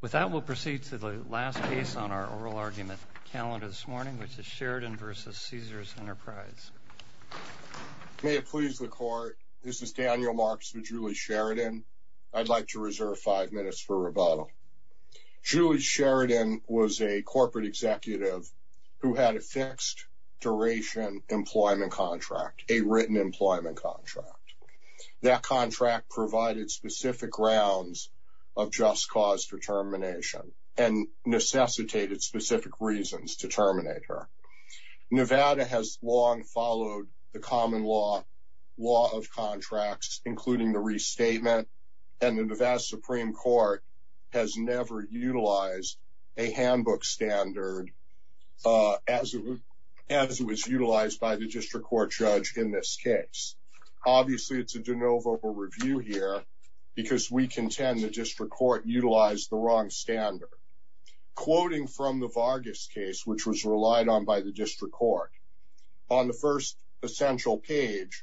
With that, we'll proceed to the last case on our oral argument calendar this morning, which is Sheridan v. Caesars Enterprise. May it please the Court, this is Daniel Marks with Julie Sheridan. I'd like to reserve five minutes for rebuttal. Julie Sheridan was a corporate executive who had a fixed-duration employment contract, a written employment contract. That contract provided specific grounds of just cause determination and necessitated specific reasons to terminate her. Nevada has long followed the common law of contracts, including the restatement, and the Nevada Supreme Court has never utilized a handbook standard as it was utilized by the district court judge in this case. Obviously, it's a de novo review here because we contend the district court utilized the wrong standard. Quoting from the Vargas case, which was relied on by the district court, on the first essential page,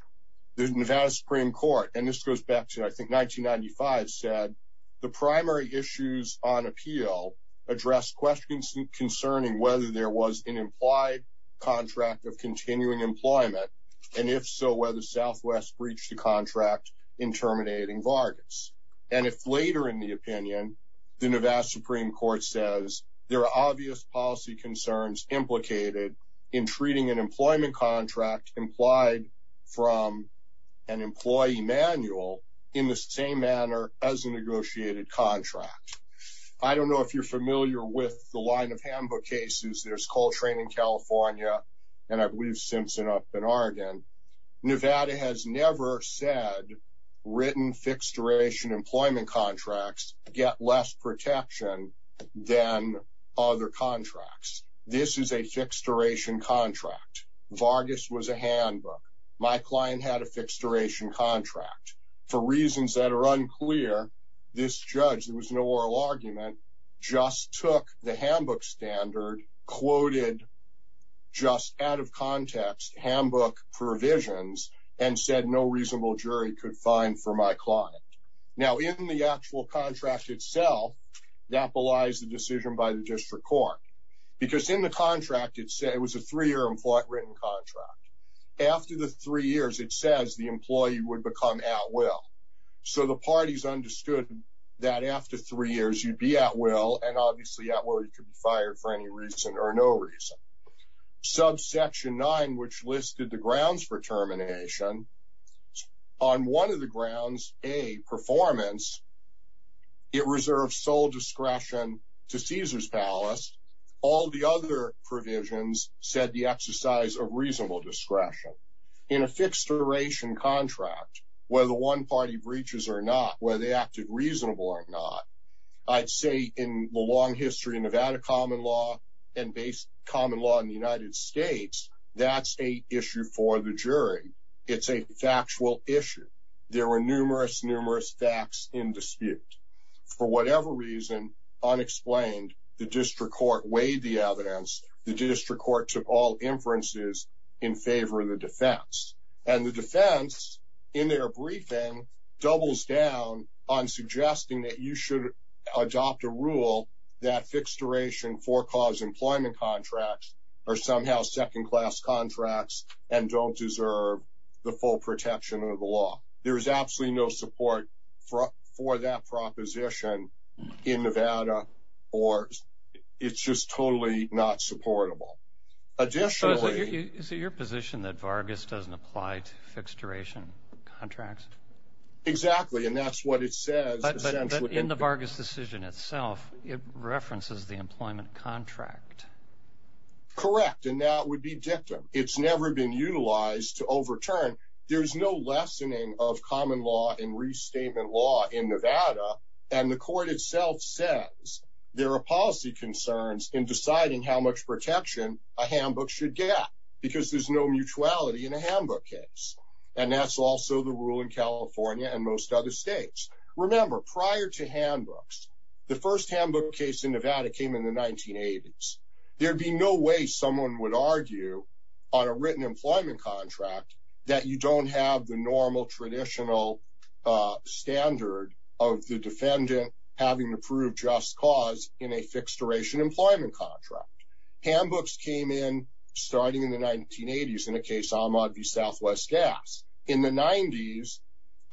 the Nevada Supreme Court, and this goes back to, I think, 1995, said, the primary issues on appeal address questions concerning whether there was an implied contract of continuing employment, and if so, whether Southwest breached the contract in terminating Vargas. And if later in the opinion, the Nevada Supreme Court says, there are obvious policy concerns implicated in treating an employment contract implied from an employee manual in the same manner as a negotiated contract. I don't know if you're familiar with the line of handbook cases. There's Coltrane in California, and I believe Simpson up in Oregon. Nevada has never said written fixed duration employment contracts get less protection than other contracts. This is a fixed duration contract. Vargas was a handbook. My client had a fixed duration contract. For reasons that are unclear, this judge, there was no oral argument, just took the handbook standard, quoted, just out of context, handbook provisions, and said no reasonable jury could find for my client. Now, in the actual contract itself, that belies the decision by the district court. Because in the contract, it was a three-year written contract. After the three years, it says the employee would become at will. So the parties understood that after three years, you'd be at will, and obviously at will, you could be fired for any reason or no reason. Subsection 9, which listed the grounds for termination, on one of the grounds, A, performance, it reserves sole discretion to Caesars Palace. All the other provisions said the exercise of reasonable discretion. In a fixed duration contract, whether one party breaches or not, whether they acted reasonable or not, I'd say in the long history of Nevada common law and common law in the United States, that's a issue for the jury. It's a factual issue. There were numerous, numerous facts in dispute. For whatever reason, unexplained, the district court weighed the evidence. The district court took all inferences in favor of the defense. And the defense, in their briefing, doubles down on suggesting that you should adopt a rule that fixed duration for-cause employment contracts are somehow second-class contracts and don't deserve the full protection of the law. There is absolutely no support for that proposition in Nevada, or it's just totally not supportable. Additionally- So is it your position that Vargas doesn't apply to fixed duration contracts? Exactly, and that's what it says. But in the Vargas decision itself, it references the employment contract. Correct, and that would be dictum. It's never been utilized to overturn. There's no lessening of common law in restatement law in Nevada. And the court itself says there are policy concerns in deciding how much protection a handbook should get because there's no mutuality in a handbook case. And that's also the rule in California and most other states. Remember, prior to handbooks, the first handbook case in Nevada came in the 1980s. There'd be no way someone would argue on a written employment contract that you don't have the normal, traditional standard of the defendant having to prove just cause in a fixed-duration employment contract. Handbooks came in starting in the 1980s in the case Ahmad v. Southwest Gas. In the 90s,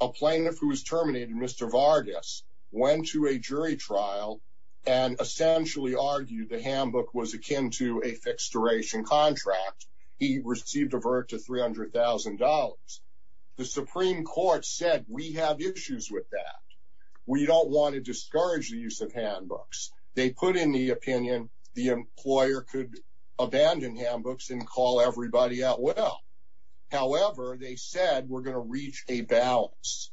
a plaintiff who was terminated, Mr. Vargas, went to a jury trial and essentially argued the handbook was akin to a fixed-duration contract. He received a verdict of $300,000. The Supreme Court said we have issues with that. We don't want to discourage the use of handbooks. They put in the opinion the employer could abandon handbooks and call everybody out well. However, they said we're going to reach a balance.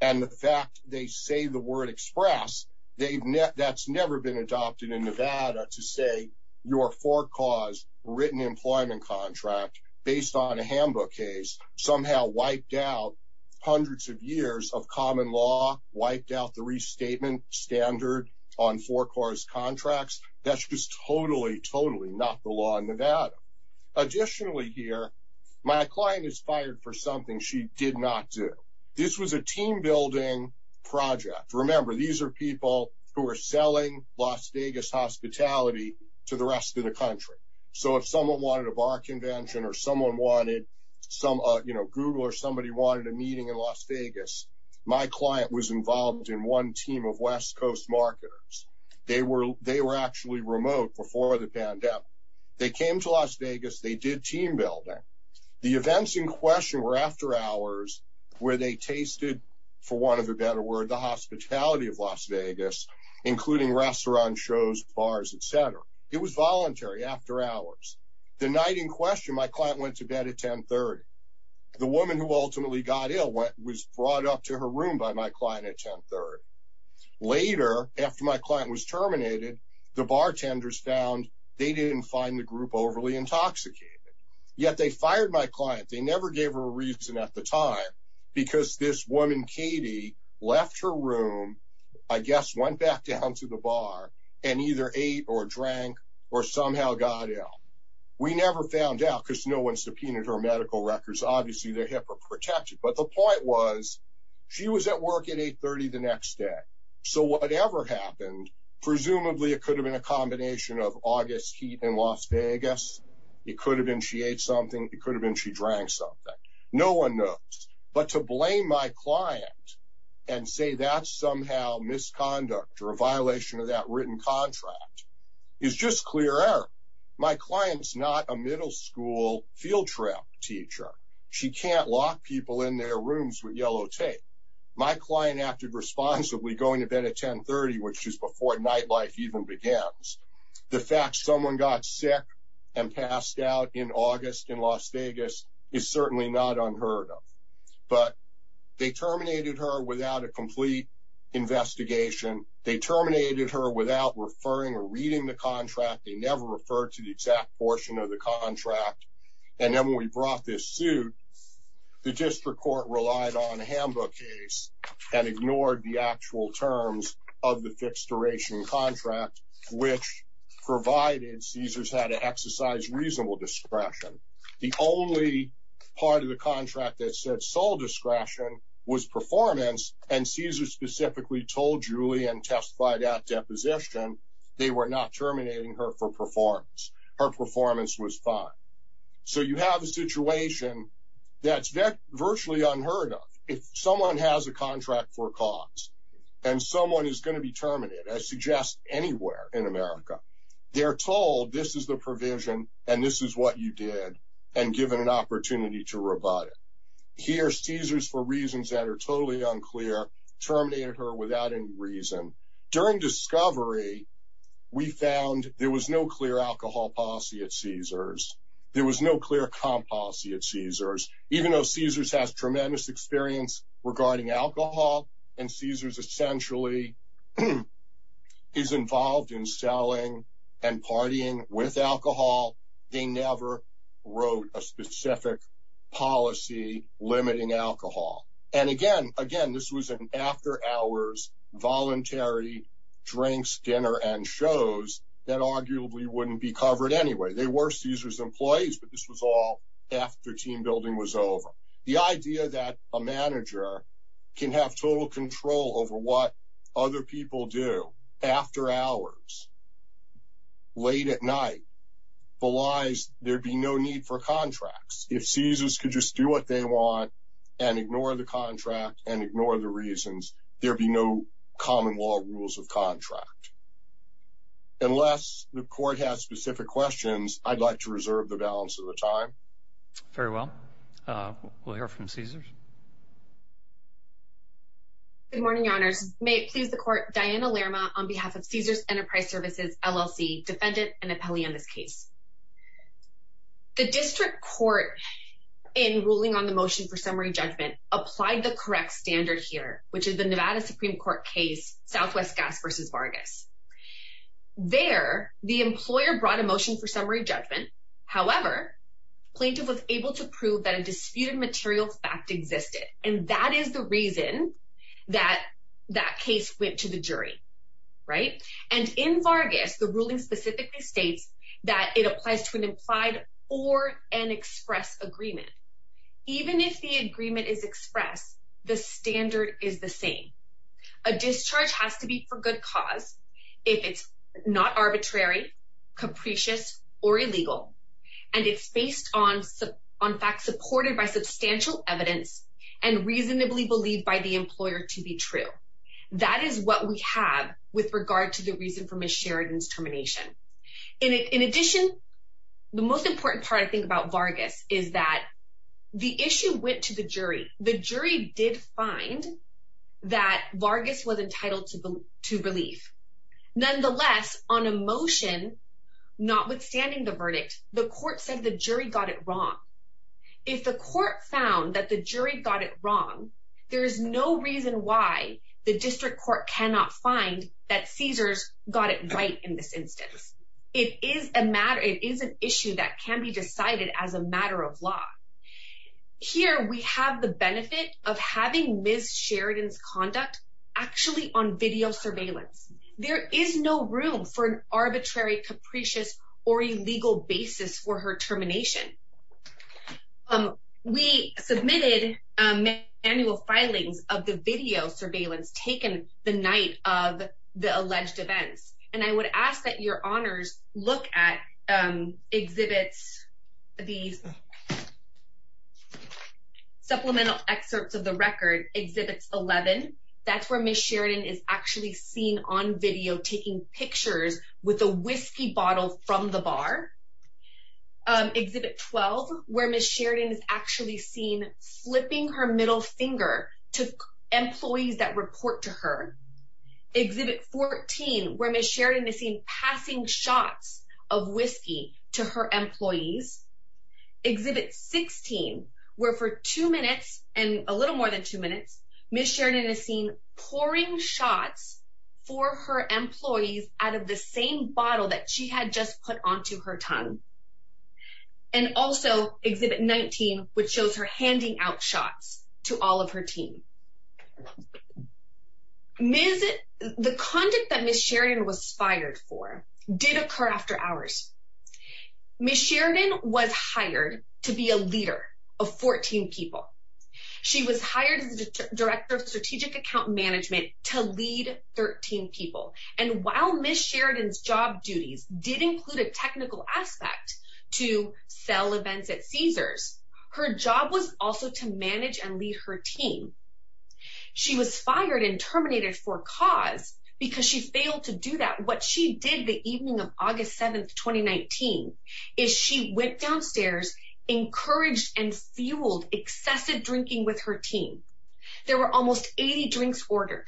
And the fact they say the word express, that's never been adopted in Nevada to say your for-cause written employment contract based on a handbook case somehow wiped out hundreds of years of common law, wiped out the restatement standard on for-cause contracts. That's just totally, totally not the law in Nevada. Additionally here, my client is fired for something she did not do. This was a team-building project. Remember, these are people who are selling Las Vegas hospitality to the rest of the country. So if someone wanted a bar convention or someone wanted some, you know, Google or somebody wanted a meeting in Las Vegas, my client was involved in one team of West Coast marketers. They were actually remote before the pandemic. They came to Las Vegas. They did team-building. The events in question were after hours where they tasted, for want of a better word, the hospitality of Las Vegas, including restaurants, shows, bars, et cetera. It was voluntary after hours. The night in question, my client went to bed at 10.30. The woman who ultimately got ill was brought up to her room by my client at 10.30. Later, after my client was terminated, the bartenders found they didn't find the group overly intoxicated. Yet they fired my client. They never gave her a reason at the time because this woman, Katie, left her room, I guess went back down to the bar and either ate or drank or somehow got ill. We never found out because no one subpoenaed her medical records. Obviously, their HIPAA protected. But the point was she was at work at 8.30 the next day. So whatever happened, presumably it could have been a combination of August heat in Las Vegas. It could have been she ate something. It could have been she drank something. No one knows. But to blame my client and say that's somehow misconduct or a violation of that written contract is just clear error. My client's not a middle school field trip teacher. She can't lock people in their rooms with yellow tape. My client acted responsibly going to bed at 10.30, which is before nightlife even begins. The fact someone got sick and passed out in August in Las Vegas is certainly not unheard of. But they terminated her without a complete investigation. They terminated her without referring or reading the contract. They never referred to the exact portion of the contract. And then when we brought this suit, the district court relied on a handbook case and ignored the actual terms of the fixed duration contract, which provided Cesar's had to exercise reasonable discretion. The only part of the contract that said sole discretion was performance, and Cesar specifically told Julie and testified at deposition they were not terminating her for performance. Her performance was fine. So you have a situation that's virtually unheard of. If someone has a contract for cause and someone is going to be terminated, I suggest anywhere in America, they're told this is the provision and this is what you did and given an opportunity to rebut it. Here, Cesar's, for reasons that are totally unclear, terminated her without any reason. During discovery, we found there was no clear alcohol policy at Cesar's. There was no clear comp policy at Cesar's. Even though Cesar's has tremendous experience regarding alcohol, and Cesar's essentially is involved in selling and partying with alcohol, they never wrote a specific policy limiting alcohol. And again, this was an after-hours, voluntary drinks, dinner, and shows that arguably wouldn't be covered anyway. They were Cesar's employees, but this was all after team building was over. The idea that a manager can have total control over what other people do after hours, late at night, belies there'd be no need for contracts. If Cesar's could just do what they want and ignore the contract and ignore the reasons, there'd be no common law rules of contract. Unless the court has specific questions, I'd like to reserve the balance of the time. Very well. We'll hear from Cesar's. Good morning, Your Honors. May it please the court, Diana Lerma on behalf of Cesar's Enterprise Services, LLC, defendant and appellee on this case. The district court, in ruling on the motion for summary judgment, applied the correct standard here, which is the Nevada Supreme Court case, Southwest Gas versus Vargas. There, the employer brought a motion for summary judgment. However, plaintiff was able to prove that a disputed material fact existed. And that is the reason that that case went to the jury. Right. And in Vargas, the ruling specifically states that it applies to an implied or an express agreement. Even if the agreement is expressed, the standard is the same. A discharge has to be for good cause. If it's not arbitrary, capricious or illegal. And it's based on facts supported by substantial evidence and reasonably believed by the employer to be true. That is what we have with regard to the reason for Ms. Sheridan's termination. In addition, the most important part, I think, about Vargas is that the issue went to the jury. The jury did find that Vargas was entitled to relief. Nonetheless, on a motion notwithstanding the verdict, the court said the jury got it wrong. If the court found that the jury got it wrong, there is no reason why the district court cannot find that Caesars got it right in this instance. It is a matter. It is an issue that can be decided as a matter of law. Here we have the benefit of having Ms. Sheridan's conduct actually on video surveillance. There is no room for an arbitrary, capricious or illegal basis for her termination. We submitted manual filings of the video surveillance taken the night of the alleged events. And I would ask that your honors look at Exhibits 11. That's where Ms. Sheridan is actually seen on video taking pictures with a whiskey bottle from the bar. Exhibit 12, where Ms. Sheridan is actually seen flipping her middle finger to employees that report to her. Exhibit 14, where Ms. Sheridan is seen passing shots of whiskey to her employees. Exhibit 16, where for two minutes and a little more than two minutes, Ms. Sheridan is seen pouring shots for her employees out of the same bottle that she had just put onto her tongue. And also Exhibit 19, which shows her handing out shots to all of her team. The conduct that Ms. Sheridan was fired for did occur after hours. Ms. Sheridan was hired to be a leader of 14 people. She was hired as the Director of Strategic Account Management to lead 13 people. And while Ms. Sheridan's job duties did include a technical aspect to sell events at Caesars, her job was also to manage and lead her team. She was fired and terminated for cause because she failed to do that. What she did the evening of August 7, 2019, is she went downstairs, encouraged and fueled excessive drinking with her team. There were almost 80 drinks ordered.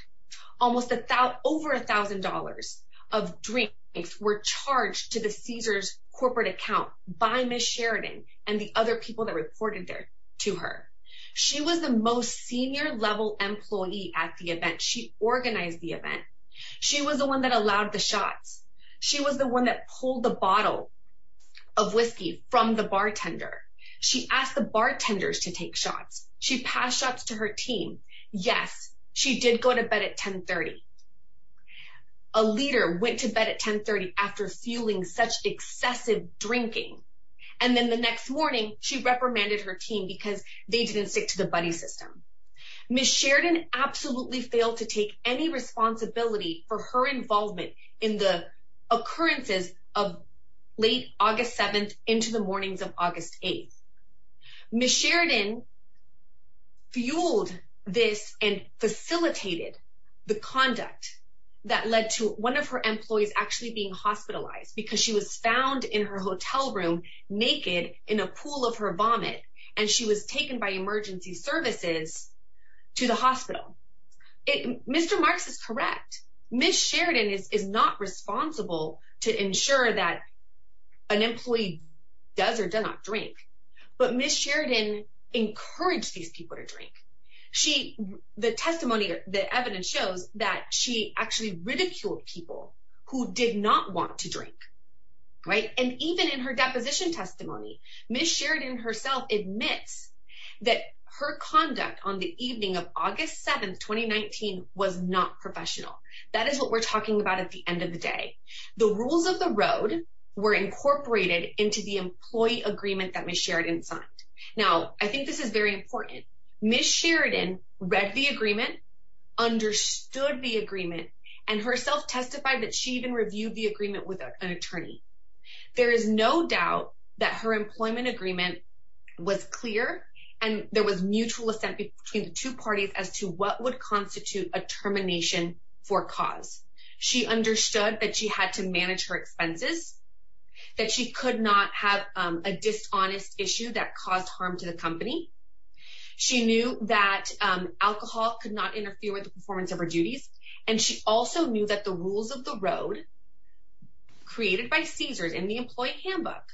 Almost over $1,000 of drinks were charged to the Caesars corporate account by Ms. Sheridan and the other people that reported to her. She was the most senior level employee at the event. She organized the event. She was the one that allowed the shots. She was the one that pulled the bottle of whiskey from the bartender. She asked the bartenders to take shots. She passed shots to her team. Yes, she did go to bed at 10.30. A leader went to bed at 10.30 after fueling such excessive drinking. And then the next morning, she reprimanded her team because they didn't stick to the buddy system. Ms. Sheridan absolutely failed to take any responsibility for her involvement in the occurrences of late August 7th into the mornings of August 8th. Ms. Sheridan fueled this and facilitated the conduct that led to one of her employees actually being hospitalized because she was found in her hotel room naked in a pool of her vomit. And she was taken by emergency services to the hospital. Mr. Marks is correct. Ms. Sheridan is not responsible to ensure that an employee does or does not drink. But Ms. Sheridan encouraged these people to drink. The testimony, the evidence shows that she actually ridiculed people who did not want to drink. And even in her deposition testimony, Ms. Sheridan herself admits that her conduct on the evening of August 7th, 2019, was not professional. That is what we're talking about at the end of the day. The rules of the road were incorporated into the employee agreement that Ms. Sheridan signed. Now, I think this is very important. Ms. Sheridan read the agreement, understood the agreement, and herself testified that she even reviewed the agreement with an attorney. There is no doubt that her employment agreement was clear and there was mutual assent between the two parties as to what would constitute a termination for cause. She understood that she had to manage her expenses, that she could not have a dishonest issue that caused harm to the company. She knew that alcohol could not interfere with the performance of her duties. And she also knew that the rules of the road, created by Caesars in the employee handbook,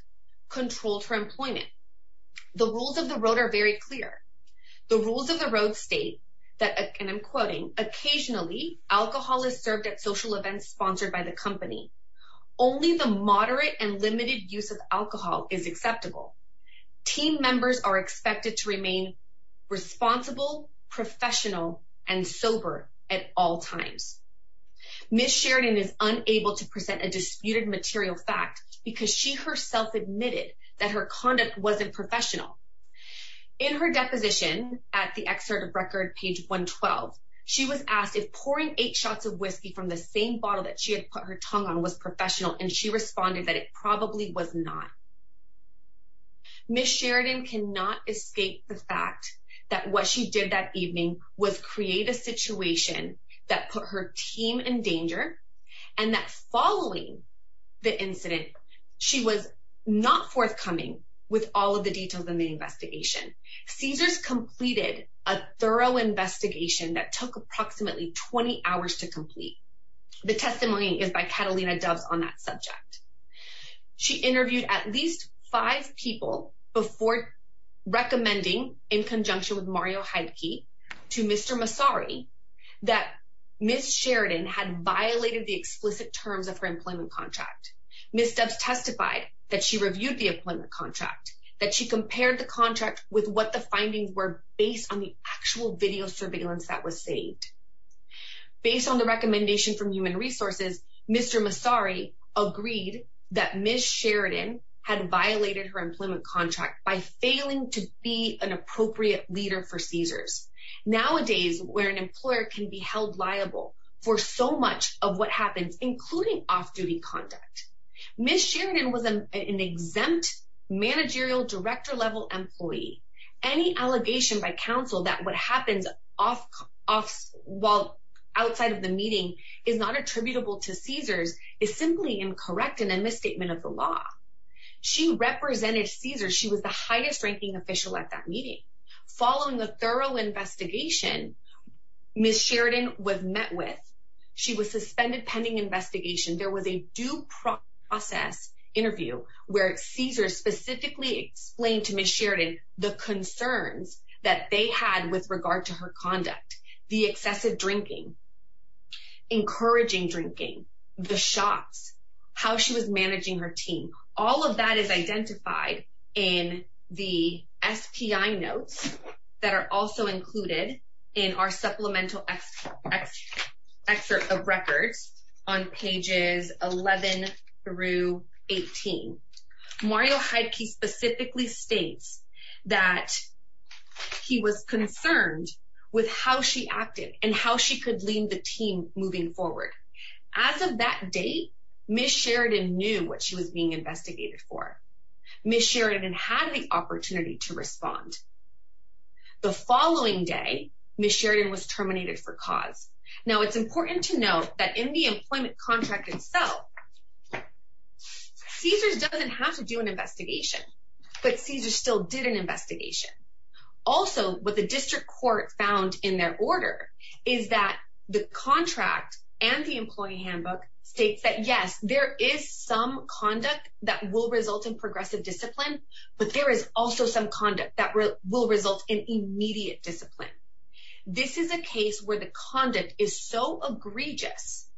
controlled her employment. The rules of the road are very clear. The rules of the road state that, and I'm quoting, Occasionally, alcohol is served at social events sponsored by the company. Only the moderate and limited use of alcohol is acceptable. Team members are expected to remain responsible, professional, and sober at all times. Ms. Sheridan is unable to present a disputed material fact because she herself admitted that her conduct wasn't professional. In her deposition, at the excerpt of record, page 112, she was asked if pouring eight shots of whiskey from the same bottle that she had put her tongue on was professional, and she responded that it probably was not. Ms. Sheridan cannot escape the fact that what she did that evening was create a situation that put her team in danger, and that following the incident, she was not forthcoming with all of the details in the investigation. Caesars completed a thorough investigation that took approximately 20 hours to complete. The testimony is by Catalina Doves on that subject. She interviewed at least five people before recommending, in conjunction with Mario Heidke, to Mr. Massari that Ms. Sheridan had violated the explicit terms of her employment contract. Ms. Doves testified that she reviewed the employment contract, that she compared the contract with what the findings were based on the actual video surveillance that was saved. Based on the recommendation from Human Resources, Mr. Massari agreed that Ms. Sheridan had violated her employment contract by failing to be an appropriate leader for Caesars. Nowadays, where an employer can be held liable for so much of what happens, including off-duty conduct, Ms. Sheridan was an exempt managerial director-level employee. Any allegation by counsel that what happens while outside of the meeting is not attributable to Caesars is simply incorrect and a misstatement of the law. She represented Caesars. She was the highest-ranking official at that meeting. Following the thorough investigation Ms. Sheridan was met with, she was suspended pending investigation. There was a due process interview where Caesars specifically explained to Ms. Sheridan the concerns that they had with regard to her conduct. The excessive drinking, encouraging drinking, the shots, how she was managing her team. All of that is identified in the SPI notes that are also included in our supplemental excerpt of records on pages 11 through 18. Mario Heidke specifically states that he was concerned with how she acted and how she could lead the team moving forward. As of that date, Ms. Sheridan knew what she was being investigated for. Ms. Sheridan had the opportunity to respond. The following day, Ms. Sheridan was terminated for cause. Now, it's important to note that in the employment contract itself, Caesars doesn't have to do an investigation, but Caesars still did an investigation. Also, what the district court found in their order is that the contract and the employee handbook states that yes, there is some conduct that will result in progressive discipline, but there is also some conduct that will result in immediate discipline. This is a case where the conduct is so egregious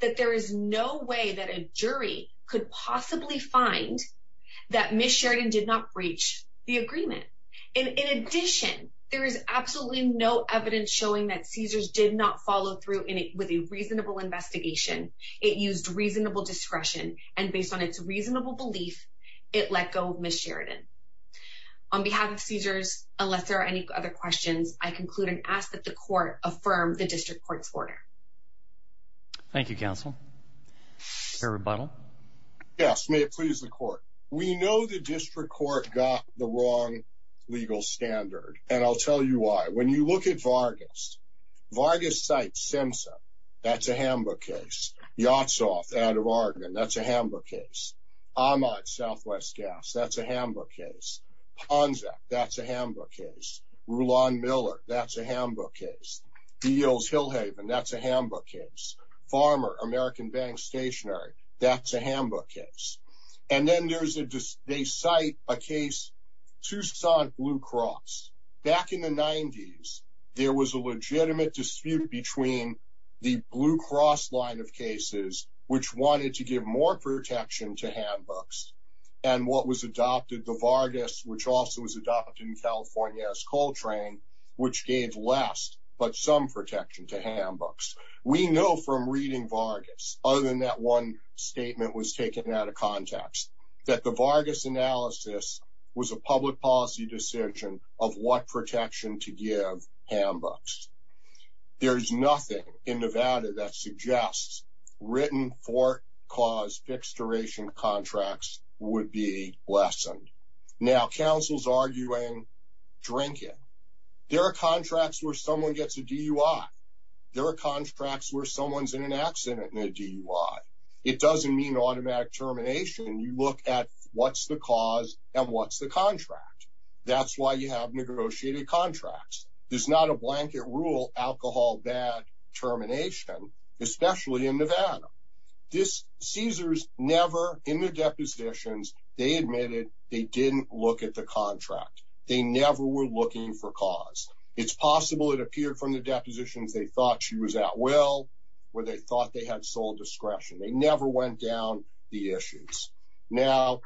that there is no way that a jury could possibly find that Ms. Sheridan did not breach the agreement. In addition, there is absolutely no evidence showing that Caesars did not follow through with a reasonable investigation. It used reasonable discretion, and based on its reasonable belief, it let go of Ms. Sheridan. On behalf of Caesars, unless there are any other questions, I conclude and ask that the court affirm the district court's order. Thank you, counsel. Mr. Rebuttal? Yes, may it please the court. We know the district court got the wrong legal standard, and I'll tell you why. When you look at Vargas, Vargas cites SIMSA, that's a handbook case. Yotsoff, out of Oregon, that's a handbook case. Ahmaud, Southwest Gas, that's a handbook case. Ponza, that's a handbook case. Rulon Miller, that's a handbook case. Beales-Hillhaven, that's a handbook case. Farmer, American Bank Stationery, that's a handbook case. And then they cite a case, Tucson Blue Cross. Back in the 90s, there was a legitimate dispute between the Blue Cross line of cases, which wanted to give more protection to handbooks, and what was adopted, the Vargas, which also was adopted in California as Coltrane, which gave less but some protection to handbooks. We know from reading Vargas, other than that one statement was taken out of context, that the Vargas analysis was a public policy decision of what protection to give handbooks. There's nothing in Nevada that suggests written fort cause fixed duration contracts would be lessened. Now, counsel's arguing drinking. There are contracts where someone gets a DUI. There are contracts where someone's in an accident and a DUI. It doesn't mean automatic termination. You look at what's the cause and what's the contract. That's why you have negotiated contracts. There's not a blanket rule, alcohol, bad, termination, especially in Nevada. Caesars never, in their depositions, they admitted they didn't look at the contract. They never were looking for cause. It's possible it appeared from the depositions they thought she was at will, where they thought they had sole discretion. They never went down the issues. Now,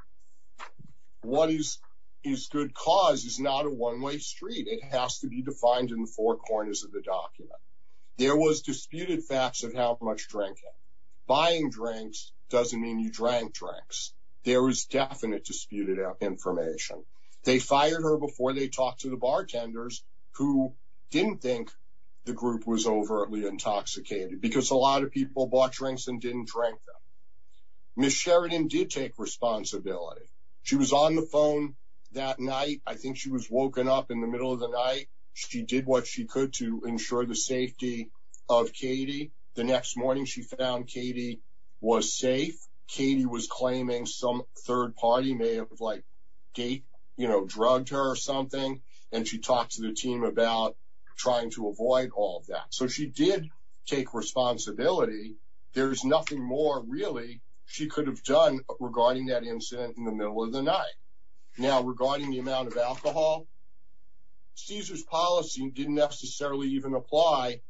what is good cause is not a one-way street. It has to be defined in the four corners of the document. There was disputed facts of how much drinking. Buying drinks doesn't mean you drank drinks. There was definite disputed information. They fired her before they talked to the bartenders, who didn't think the group was overtly intoxicated, because a lot of people bought drinks and didn't drink them. Ms. Sheridan did take responsibility. She was on the phone that night. I think she was woken up in the middle of the night. She did what she could to ensure the safety of Katie. The next morning, she found Katie was safe. Katie was claiming some third party may have, you know, drugged her or something, and she talked to the team about trying to avoid all of that. So she did take responsibility. There is nothing more, really, she could have done regarding that incident in the middle of the night. Now, regarding the amount of alcohol, Cesar's policy didn't necessarily even apply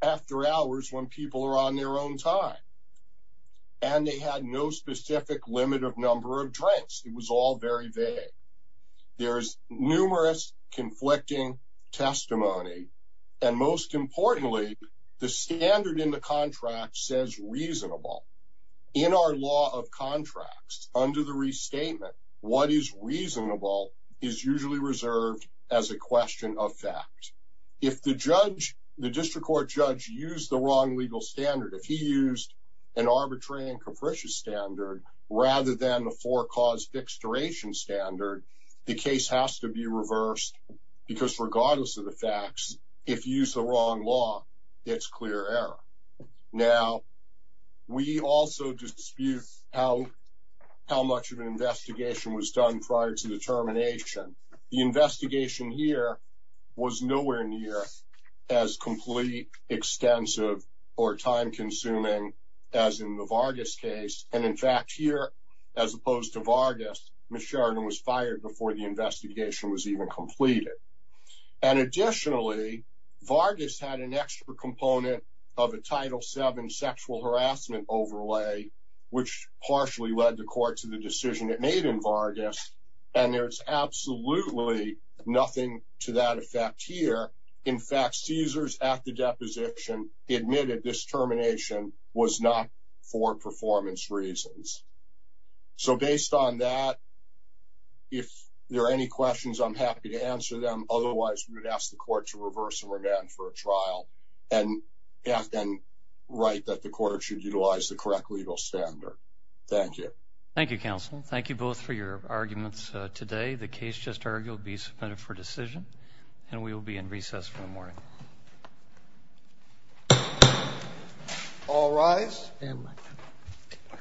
after hours, when people are on their own time. And they had no specific limit of number of drinks. It was all very vague. There is numerous conflicting testimony, and most importantly, the standard in the contract says reasonable. In our law of contracts, under the restatement, what is reasonable is usually reserved as a question of fact. If the judge, the district court judge, used the wrong legal standard, if he used an arbitrary and capricious standard, rather than a forecaused dexteration standard, the case has to be reversed, because regardless of the facts, if you use the wrong law, it's clear error. Now, we also dispute how much of an investigation was done prior to the termination. The investigation here was nowhere near as complete, extensive, or time-consuming as in the Vargas case. And in fact, here, as opposed to Vargas, Ms. Sheridan was fired before the investigation was even completed. And additionally, Vargas had an extra component of a Title VII sexual harassment overlay, which partially led the court to the decision it made in Vargas, and there's absolutely nothing to that effect here. In fact, Caesars, at the deposition, admitted this termination was not for performance reasons. So based on that, if there are any questions, I'm happy to answer them. Otherwise, we would ask the court to reverse and remand for a trial and write that the court should utilize the correct legal standard. Thank you. Thank you, counsel. Thank you both for your arguments today. The case just argued will be submitted for decision, and we will be in recess for the morning. All rise.